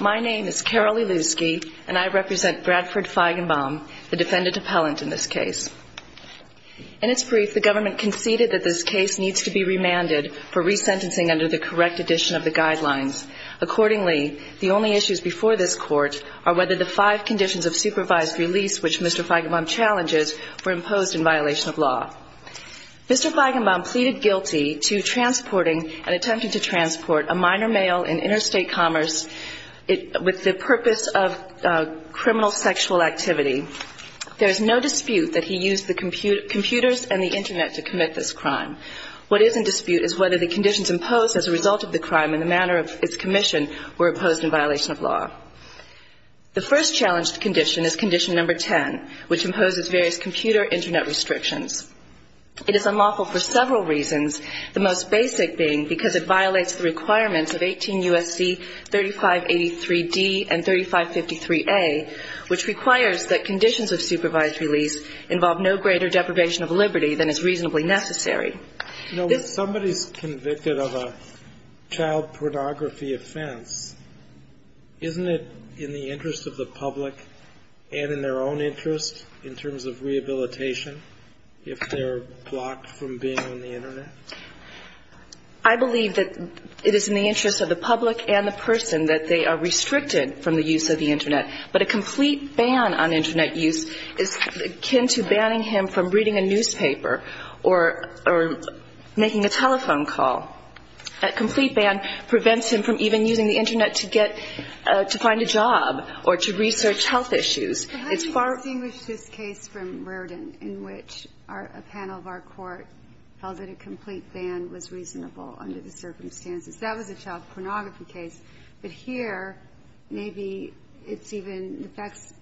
My name is Carol Ilusky, and I represent Bradford Feigenbaum, the defendant appellant in this case. In its brief, the government conceded that this case needs to be remanded for resentencing under the correct edition of the guidelines. Accordingly, the only issues before this court are whether the five conditions of supervised release which Mr. Feigenbaum challenges were imposed in violation of law. Mr. Feigenbaum pleaded guilty to transporting and attempting to transport a minor male in interstate commerce with the purpose of criminal sexual activity. There is no dispute that he used the computers and the Internet to commit this crime. What is in dispute is whether the conditions imposed as a result of the crime in the manner of its commission were imposed in violation of law. The first challenged condition is condition number 10, which imposes various computer Internet restrictions. It is unlawful for several reasons, the most basic being because it violates the requirements of 18 U.S.C. 3583d and 3553a, which requires that conditions of supervised release involve no greater deprivation of liberty than is reasonably necessary. Somebody is convicted of a child pornography offense. Isn't it in the interest of the public and in their own interest in terms of rehabilitation if they're blocked from being on the Internet? I believe that it is in the interest of the public and the person that they are restricted from the use of the Internet. But a complete ban on Internet use is akin to banning him from reading a newspaper or making a telephone call. A complete ban prevents him from even using the Internet to get to find a job or to research health issues. It's far – But how do you distinguish this case from Rerden in which a panel of our court felt that a complete ban was reasonable under the circumstances? That was a child pornography case. But here, maybe it's even – the facts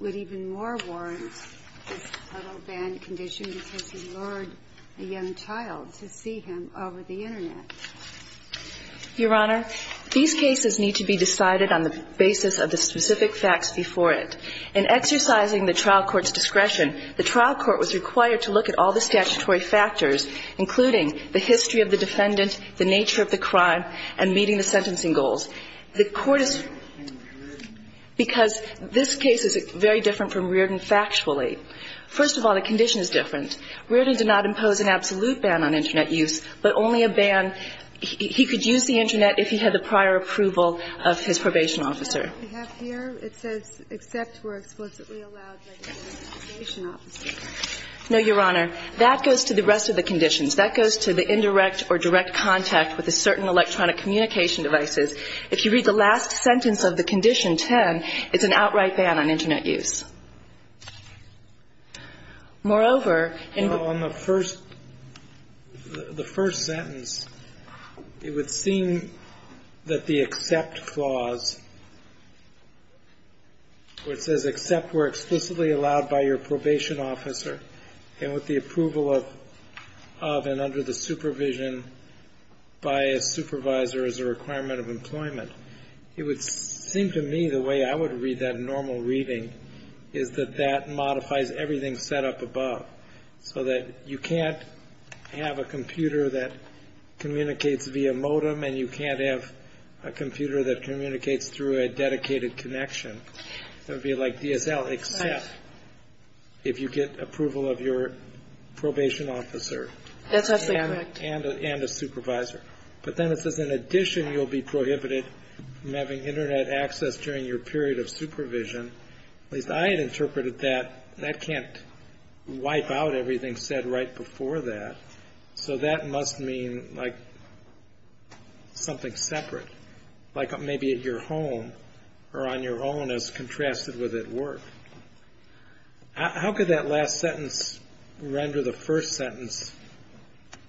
would even more warrant this total ban condition because he lured a young child to see him over the Internet. Your Honor, these cases need to be decided on the basis of the specific facts before it. In exercising the trial court's discretion, the trial court was required to look at all the statutory factors, including the history of the defendant, the nature of the crime, and meeting the sentencing goals. The court is – In Rerden? Because this case is very different from Rerden factually. First of all, the condition is different. Rerden did not impose an absolute ban on Internet use, but only a ban – he could use the Internet if he had the prior approval of his probation officer. Except we're explicitly allowed by the probation officer. No, Your Honor. That goes to the rest of the conditions. That goes to the indirect or direct contact with a certain electronic communication devices. If you read the last sentence of the condition 10, it's an outright ban on Internet use. Moreover, in the – Well, on the first – the first sentence, it would seem that the except clause, where it says explicitly allowed by your probation officer and with the approval of and under the supervision by a supervisor as a requirement of employment, it would seem to me the way I would read that in normal reading is that that modifies everything set up above, so that you can't have a computer that communicates via modem, and you can't have a computer that communicates through a dedicated connection. It would be like DSL except if you get approval of your probation officer. That's absolutely correct. And a supervisor. But then it says, in addition, you'll be prohibited from having Internet access during your period of supervision. At least I had interpreted that that can't wipe out everything said right before that, So that must mean, like, something separate, like maybe at your home or on your own as contrasted with at work. How could that last sentence render the first sentence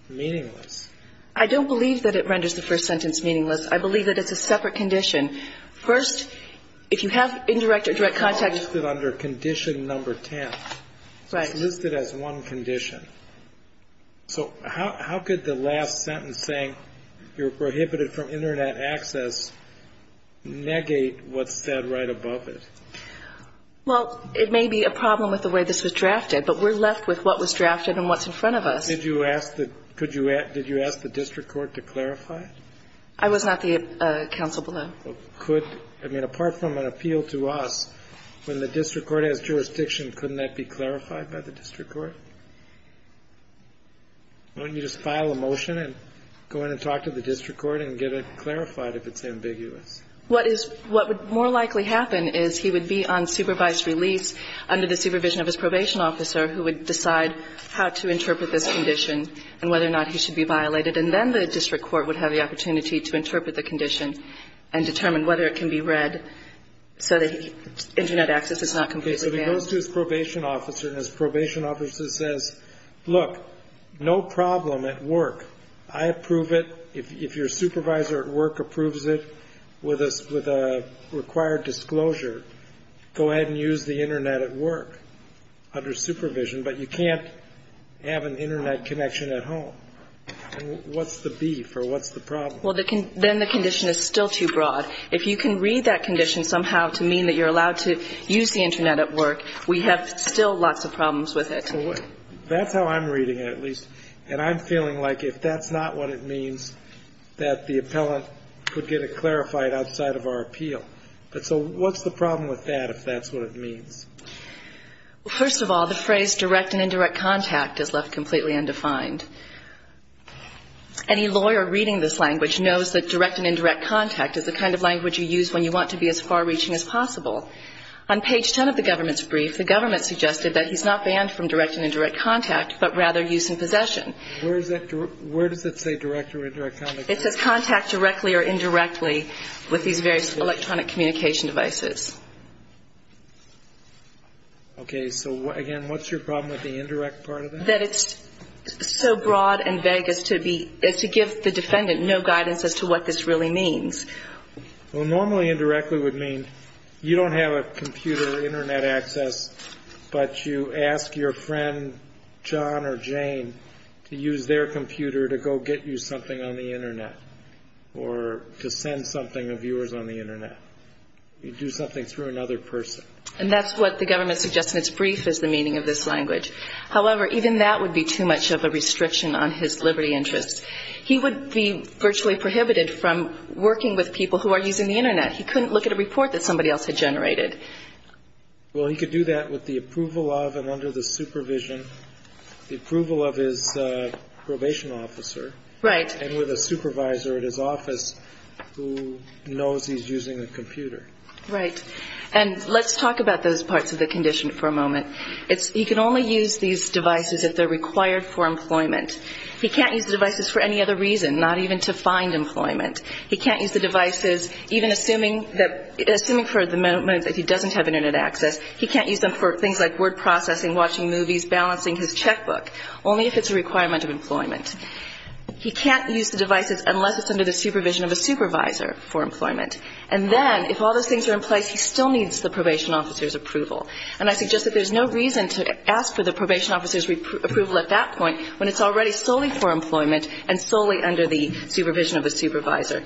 meaningless? I don't believe that it renders the first sentence meaningless. I believe that it's a separate condition. First, if you have indirect or direct contact – It's listed under condition number 10. Right. It's listed as one condition. So how could the last sentence saying you're prohibited from Internet access negate what's said right above it? Well, it may be a problem with the way this was drafted, but we're left with what was drafted and what's in front of us. Did you ask the district court to clarify it? I was not the counsel below. I mean, apart from an appeal to us, when the district court has jurisdiction, couldn't that be clarified by the district court? Why don't you just file a motion and go in and talk to the district court and get it clarified if it's ambiguous? What is – what would more likely happen is he would be on supervised release under the supervision of his probation officer who would decide how to interpret this condition and whether or not he should be violated. And then the district court would have the opportunity to interpret the condition and determine whether it can be read so that Internet access is not completely banned. Okay. So he goes to his probation officer, and his probation officer says, look, no problem at work. I approve it. If your supervisor at work approves it with a required disclosure, go ahead and use the Internet at work under supervision. But you can't have an Internet connection at home. What's the beef or what's the problem? Well, then the condition is still too broad. If you can read that condition somehow to mean that you're allowed to use the Internet at work, we have still lots of problems with it. That's how I'm reading it, at least. And I'm feeling like if that's not what it means, that the appellant could get it clarified outside of our appeal. So what's the problem with that if that's what it means? Well, first of all, the phrase direct and indirect contact is left completely undefined. Any lawyer reading this language knows that direct and indirect contact is the kind of language you use when you want to be as far-reaching as possible. On page 10 of the government's brief, the government suggested that he's not banned from direct and indirect contact, but rather use and possession. Where does that say direct or indirect contact? It says contact directly or indirectly with these various electronic communication devices. Okay. So, again, what's your problem with the indirect part of that? That it's so broad and vague as to give the defendant no guidance as to what this really means. Well, normally indirectly would mean you don't have a computer or Internet access, but you ask your friend, John or Jane, to use their computer to go get you something on the Internet or to send something of yours on the Internet. You do something through another person. And that's what the government suggests in its brief is the meaning of this language. However, even that would be too much of a restriction on his liberty interests. He would be virtually prohibited from working with people who are using the Internet. He couldn't look at a report that somebody else had generated. Well, he could do that with the approval of and under the supervision, the approval of his probation officer. Right. And with a supervisor at his office who knows he's using a computer. Right. And let's talk about those parts of the condition for a moment. He can only use these devices if they're required for employment. He can't use the devices for any other reason, not even to find employment. He can't use the devices even assuming that, assuming for the moment that he doesn't have Internet access, he can't use them for things like word processing, watching movies, balancing his checkbook, only if it's a requirement of employment. He can't use the devices unless it's under the supervision of a supervisor for employment. And then if all those things are in place, he still needs the probation officer's approval. And I suggest that there's no reason to ask for the probation officer's approval at that point when it's already solely for employment and solely under the supervision of a supervisor.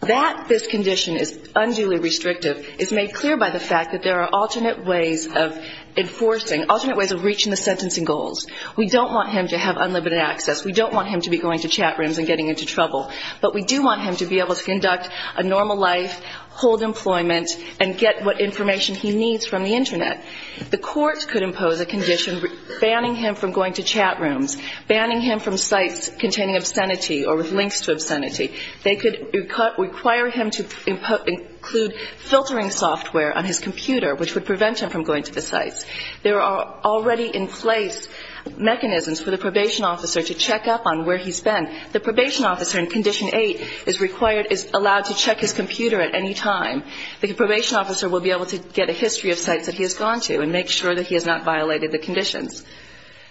That this condition is unduly restrictive is made clear by the fact that there are alternate ways of enforcing, alternate ways of reaching the sentencing goals. We don't want him to have unlimited access. We don't want him to be going to chat rooms and getting into trouble. But we do want him to be able to conduct a normal life, hold employment, and get what information he needs from the Internet. The court could impose a condition banning him from going to chat rooms, banning him from sites containing obscenity or with links to obscenity. They could require him to include filtering software on his computer, which would prevent him from going to the sites. There are already in place mechanisms for the probation officer to check up on where he's been. The probation officer in Condition 8 is required, is allowed to check his computer at any time. The probation officer will be able to get a history of sites that he has gone to and make sure that he has not violated the conditions.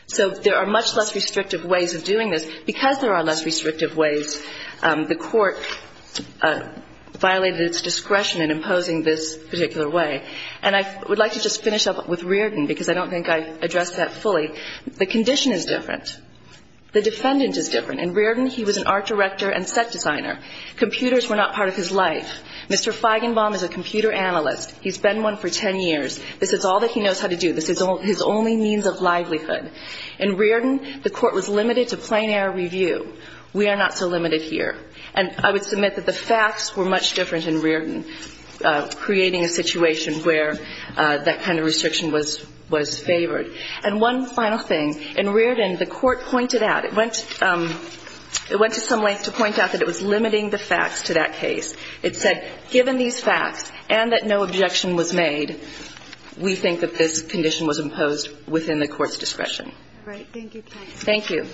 So there are much less restrictive ways of doing this. Because there are less restrictive ways, the court violated its discretion in imposing this particular way. And I would like to just finish up with Reardon, because I don't think I addressed that fully. The condition is different. The defendant is different. In Reardon, he was an art director and set designer. Computers were not part of his life. Mr. Feigenbaum is a computer analyst. He's been one for ten years. This is all that he knows how to do. This is his only means of livelihood. In Reardon, the court was limited to plain air review. We are not so limited here. And I would submit that the facts were much different in Reardon, creating a situation where that kind of restriction was favored. And one final thing. In Reardon, the court pointed out, it went to some length to point out that it was limiting the facts to that case. It said, given these facts and that no objection was made, we think that this condition was imposed within the court's discretion. All right. Thank you. Thank you.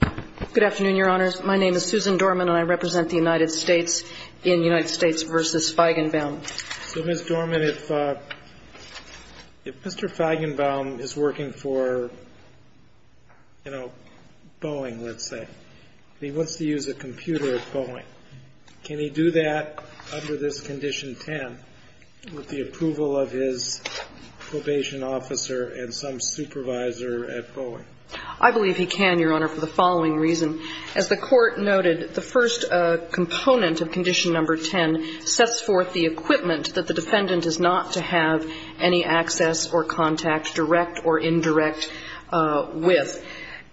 Good afternoon, Your Honors. My name is Susan Dorman, and I represent the United States in United States v. Feigenbaum. So, Ms. Dorman, if Mr. Feigenbaum is working for, you know, Boeing, let's say, and he wants to use a computer at Boeing, can he do that under this Condition 10 with the approval of his probation officer and some supervisor at Boeing? I believe he can, Your Honor, for the following reason. As the Court noted, the first component of Condition No. 10 sets forth the equipment that the defendant is not to have any access or contact, direct or indirect, with.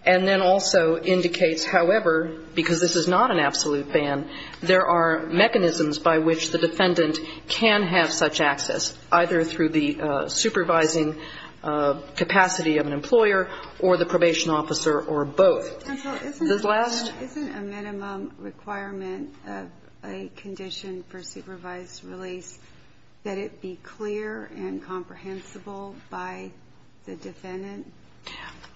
And then also indicates, however, because this is not an absolute ban, there are mechanisms by which the defendant can have such access, either through the supervising capacity of an employer or the probation officer or both. Counsel, isn't a minimum requirement of a condition for supervised release that it be clear and comprehensible by the defendant?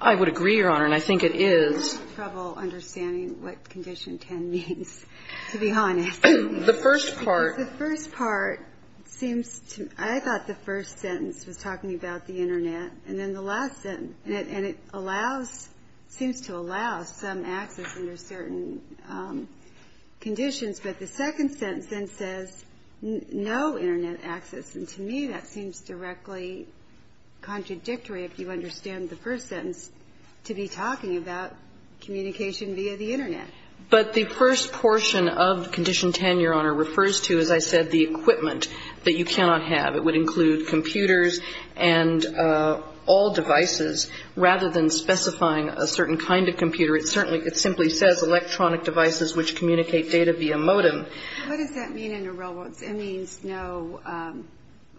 I would agree, Your Honor, and I think it is. I'm having trouble understanding what Condition 10 means, to be honest. The first part. The first part seems to me, I thought the first sentence was talking about the Internet, and then the last sentence, and it allows, seems to allow some access under certain conditions. But the second sentence then says no Internet access, and to me that seems directly contradictory, if you understand the first sentence, to be talking about communication via the Internet. But the first portion of Condition 10, Your Honor, refers to, as I said, the equipment that you cannot have. It would include computers and all devices, rather than specifying a certain kind of computer. It certainly, it simply says electronic devices which communicate data via modem. What does that mean in the real world? It means no,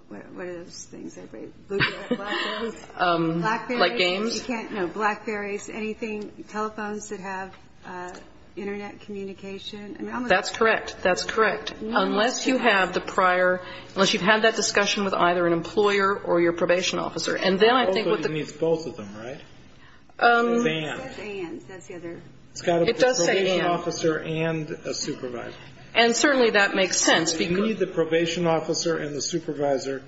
what are those things? Like games? No, Blackberries, anything, telephones that have Internet communication. That's correct. That's correct. Unless you have the prior, unless you've had that discussion with either an employer or your probation officer, and then I think what the... Also it needs both of them, right? It does say and. It's got a probation officer and a supervisor. And certainly that makes sense because... You need the probation officer and the supervisor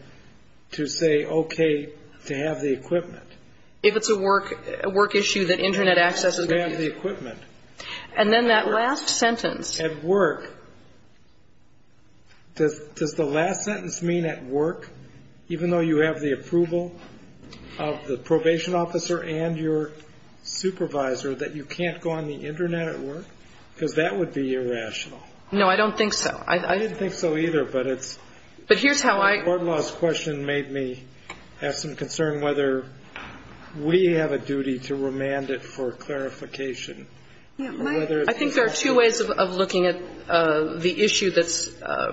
to say okay to have the equipment. If it's a work issue that Internet access is going to be... To have the equipment. And then that last sentence... Does the last sentence mean at work, even though you have the approval of the probation officer and your supervisor, that you can't go on the Internet at work? Because that would be irrational. No, I don't think so. I didn't think so either, but it's... But here's how I... The court laws question made me have some concern whether we have a duty to remand it for clarification. I think there are two ways of looking at the issue that's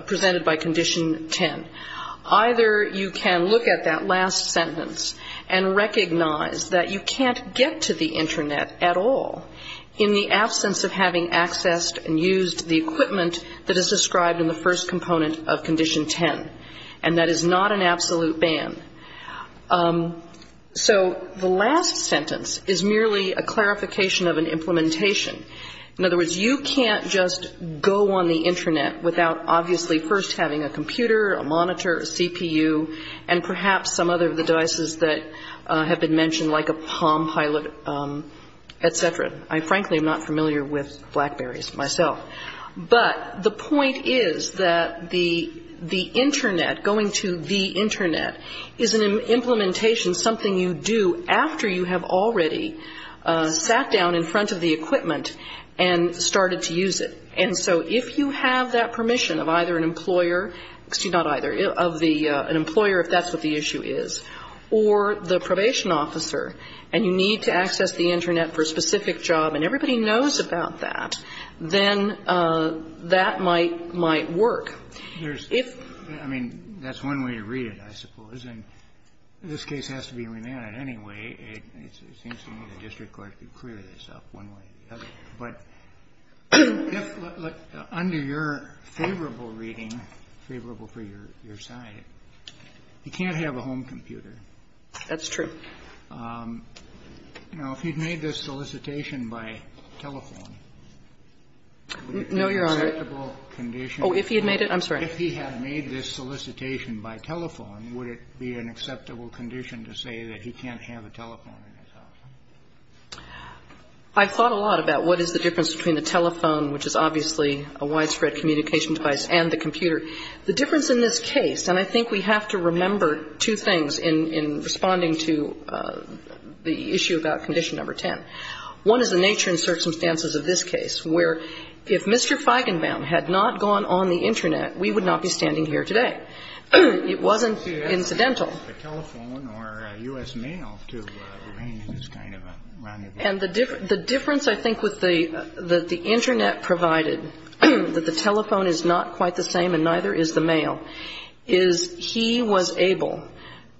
presented by Condition 10. Either you can look at that last sentence and recognize that you can't get to the Internet at all in the absence of having accessed and used the equipment that is described in the first component of Condition 10, and that is not an absolute ban. So the last sentence is merely a clarification of an implementation. In other words, you can't just go on the Internet without obviously first having a computer, a monitor, a CPU, and perhaps some other of the devices that have been mentioned, like a Palm Pilot, et cetera. I frankly am not familiar with BlackBerrys myself. But the point is that the Internet, going to the Internet, is an implementation, something you do after you have already sat down in front of the equipment and started to use it. And so if you have that permission of either an employer, excuse me, not either, of an employer if that's what the issue is, or the probation officer, and you need to access the Internet for a specific job and everybody knows about that, then that might work. Kennedy. I mean, that's one way to read it, I suppose. And this case has to be remanded anyway. It seems to me the district court could clear this up one way or the other. But under your favorable reading, favorable for your side, you can't have a home computer. That's true. Now, if he'd made this solicitation by telephone, would it be an acceptable condition? No, Your Honor. Oh, if he had made it? I'm sorry. If he had made this solicitation by telephone, would it be an acceptable condition to say that he can't have a telephone in his house? I've thought a lot about what is the difference between a telephone, which is obviously a widespread communication device, and the computer. The difference in this case, and I think we have to remember two things in responding to the issue about condition number 10. One is the nature and circumstances of this case, where if Mr. Feigenbaum had not gone on the Internet, we would not be standing here today. It wasn't incidental. He had to have a telephone or U.S. mail to arrange this kind of a rendezvous. And the difference, I think, with the Internet provided that the telephone is not quite the same and neither is the mail, is he was able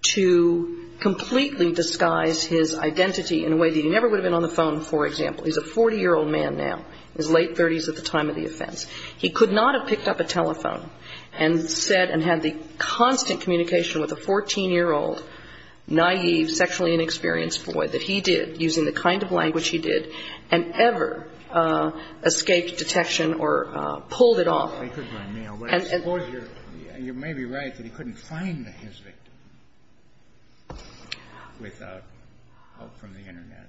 to completely disguise his identity in a way that he never would have been on the phone, for example. He's a 40-year-old man now. He's late 30s at the time of the offense. He could not have picked up a telephone and said and had the constant communication with a 14-year-old, naive, sexually inexperienced boy that he did, using the kind of language he did, and ever escaped detection or pulled it off. He could run mail. But I suppose you're maybe right that he couldn't find his victim without help from the Internet.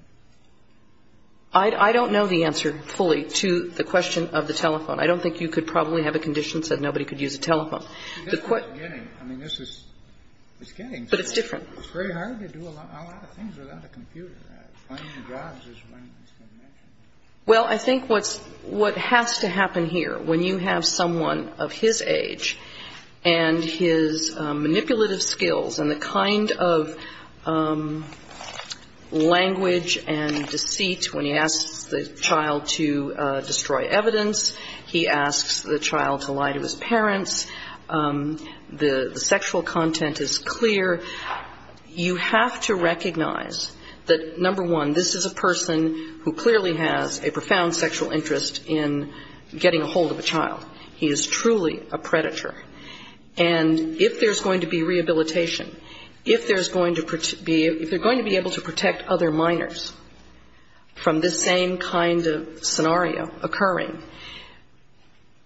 I don't know the answer fully to the question of the telephone. I don't think you could probably have a condition that said nobody could use a telephone. The question is getting. I mean, this is getting. But it's different. It's very hard to do a lot of things without a computer. Finding jobs is one that's been mentioned. Well, I think what has to happen here, when you have someone of his age and his manipulative skills and the kind of language and deceit when he asks the child to destroy evidence, he asks the child to lie to his parents, the sexual content is clear, you have to recognize that, number one, this is a person who clearly has a profound sexual interest in getting a hold of a child. He is truly a predator. And if there's going to be rehabilitation, if there's going to be, if they're going to be able to protect other minors from this same kind of scenario occurring,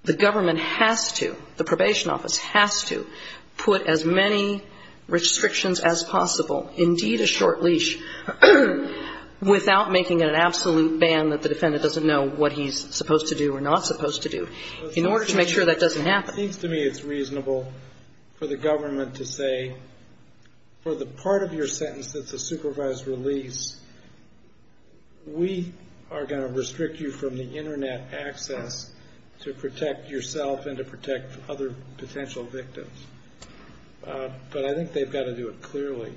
the government has to, the probation office has to put as many restrictions as possible, indeed a short leash, without making an absolute ban that the defendant doesn't know what he's supposed to do or not supposed to do, in order to make sure that doesn't happen. It seems to me it's reasonable for the government to say, for the part of your sentence that's a supervised release, we are going to restrict you from the Internet access to protect yourself and to protect other potential victims. But I think they've got to do it clearly,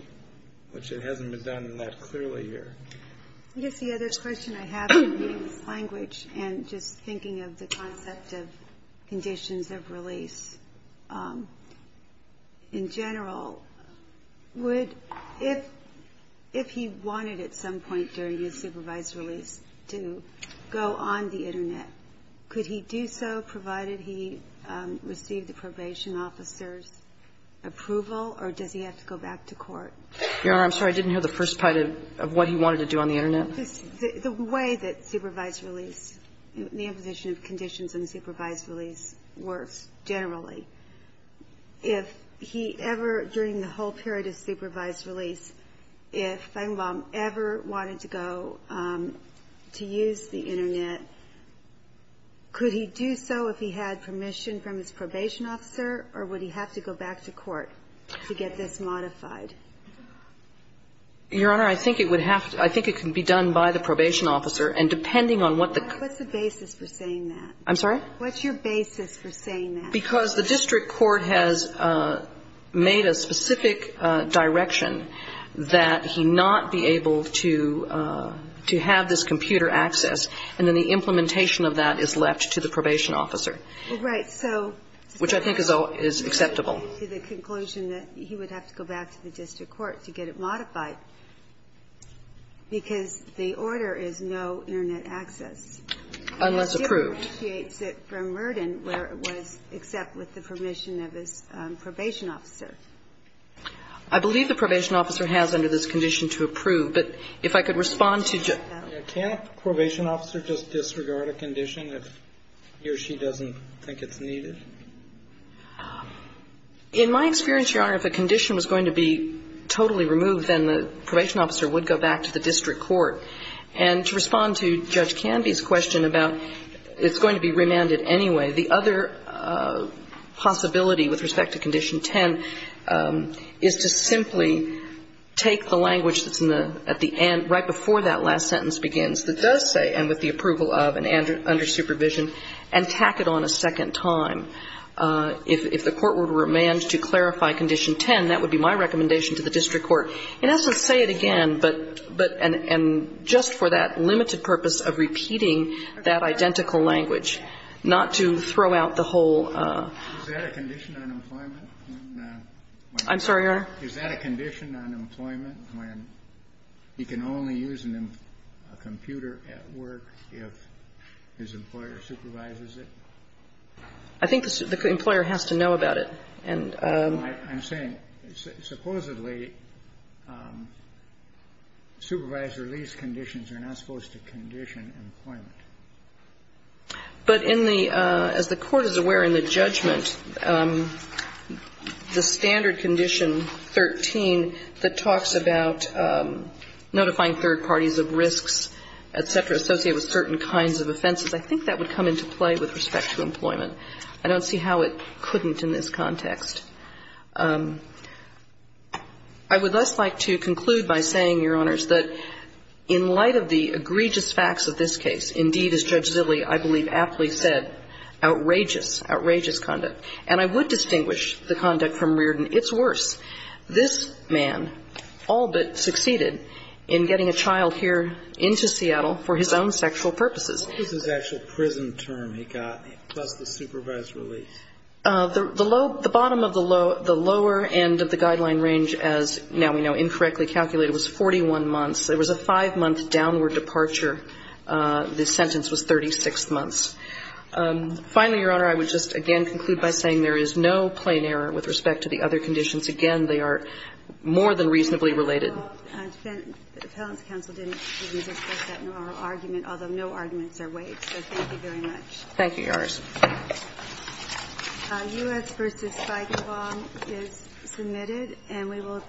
which it hasn't been done that clearly here. Yes, the other question I have in reading this language and just thinking of the concept of conditions of release, in general, would, if he wanted at some point during his supervised release to go on the Internet, could he do so, provided he received the probation officer's approval, or does he have to go back to court? Your Honor, I'm sorry. I didn't hear the first part of what he wanted to do on the Internet. The way that supervised release, the imposition of conditions on supervised release works generally. If he ever, during the whole period of supervised release, if Feigenbaum ever wanted to go to use the Internet, could he do so if he had permission from his probation officer, or would he have to go back to court to get this modified? Your Honor, I think it would have to be done by the probation officer. And depending on what the... What's the basis for saying that? I'm sorry? What's your basis for saying that? Because the district court has made a specific direction that he not be able to have this computer access. And then the implementation of that is left to the probation officer. Well, right. So... Which I think is acceptable. To the conclusion that he would have to go back to the district court to get it modified, because the order is no Internet access. Unless approved. And he appreciates it from Merden, where it was except with the permission of his probation officer. I believe the probation officer has under this condition to approve. But if I could respond to... Can a probation officer just disregard a condition if he or she doesn't think it's needed? In my experience, Your Honor, if a condition was going to be totally removed, then the probation officer would go back to the district court. And to respond to Judge Canby's question about it's going to be remanded anyway, the other possibility with respect to Condition 10 is to simply take the language that's right before that last sentence begins that does say, and with the approval of and under supervision, and tack it on a second time. If the court were to remand to clarify Condition 10, that would be my recommendation to the district court. In essence, say it again, but, and just for that limited purpose of repeating that identical language, not to throw out the whole... I'm sorry, Your Honor? Is that a condition on employment when he can only use a computer at work if his employer supervises it? I think the employer has to know about it. I'm saying, supposedly, supervised release conditions are not supposed to condition employment. But in the, as the court is aware in the judgment, the standard Condition 13 that talks about notifying third parties of risks, et cetera, associated with certain kinds of offenses, I think that would come into play with respect to employment. I don't see how it couldn't in this context. I would thus like to conclude by saying, Your Honors, that in light of the egregious facts of this case, indeed, as Judge Zille, I believe, aptly said, outrageous, outrageous conduct. And I would distinguish the conduct from Reardon. It's worse. This man all but succeeded in getting a child here into Seattle for his own sexual purposes. What was his actual prison term he got plus the supervised release? The low, the bottom of the low, the lower end of the guideline range, as now we know, incorrectly calculated, was 41 months. It was a five-month downward departure. The sentence was 36 months. Finally, Your Honor, I would just again conclude by saying there is no plain error with respect to the other conditions. Again, they are more than reasonably related. The Appellant's counsel didn't discuss that in our argument, although no arguments are waived. So thank you very much. Thank you, Your Honors. U.S. v. Spigenbaum is submitted. And we will take a break.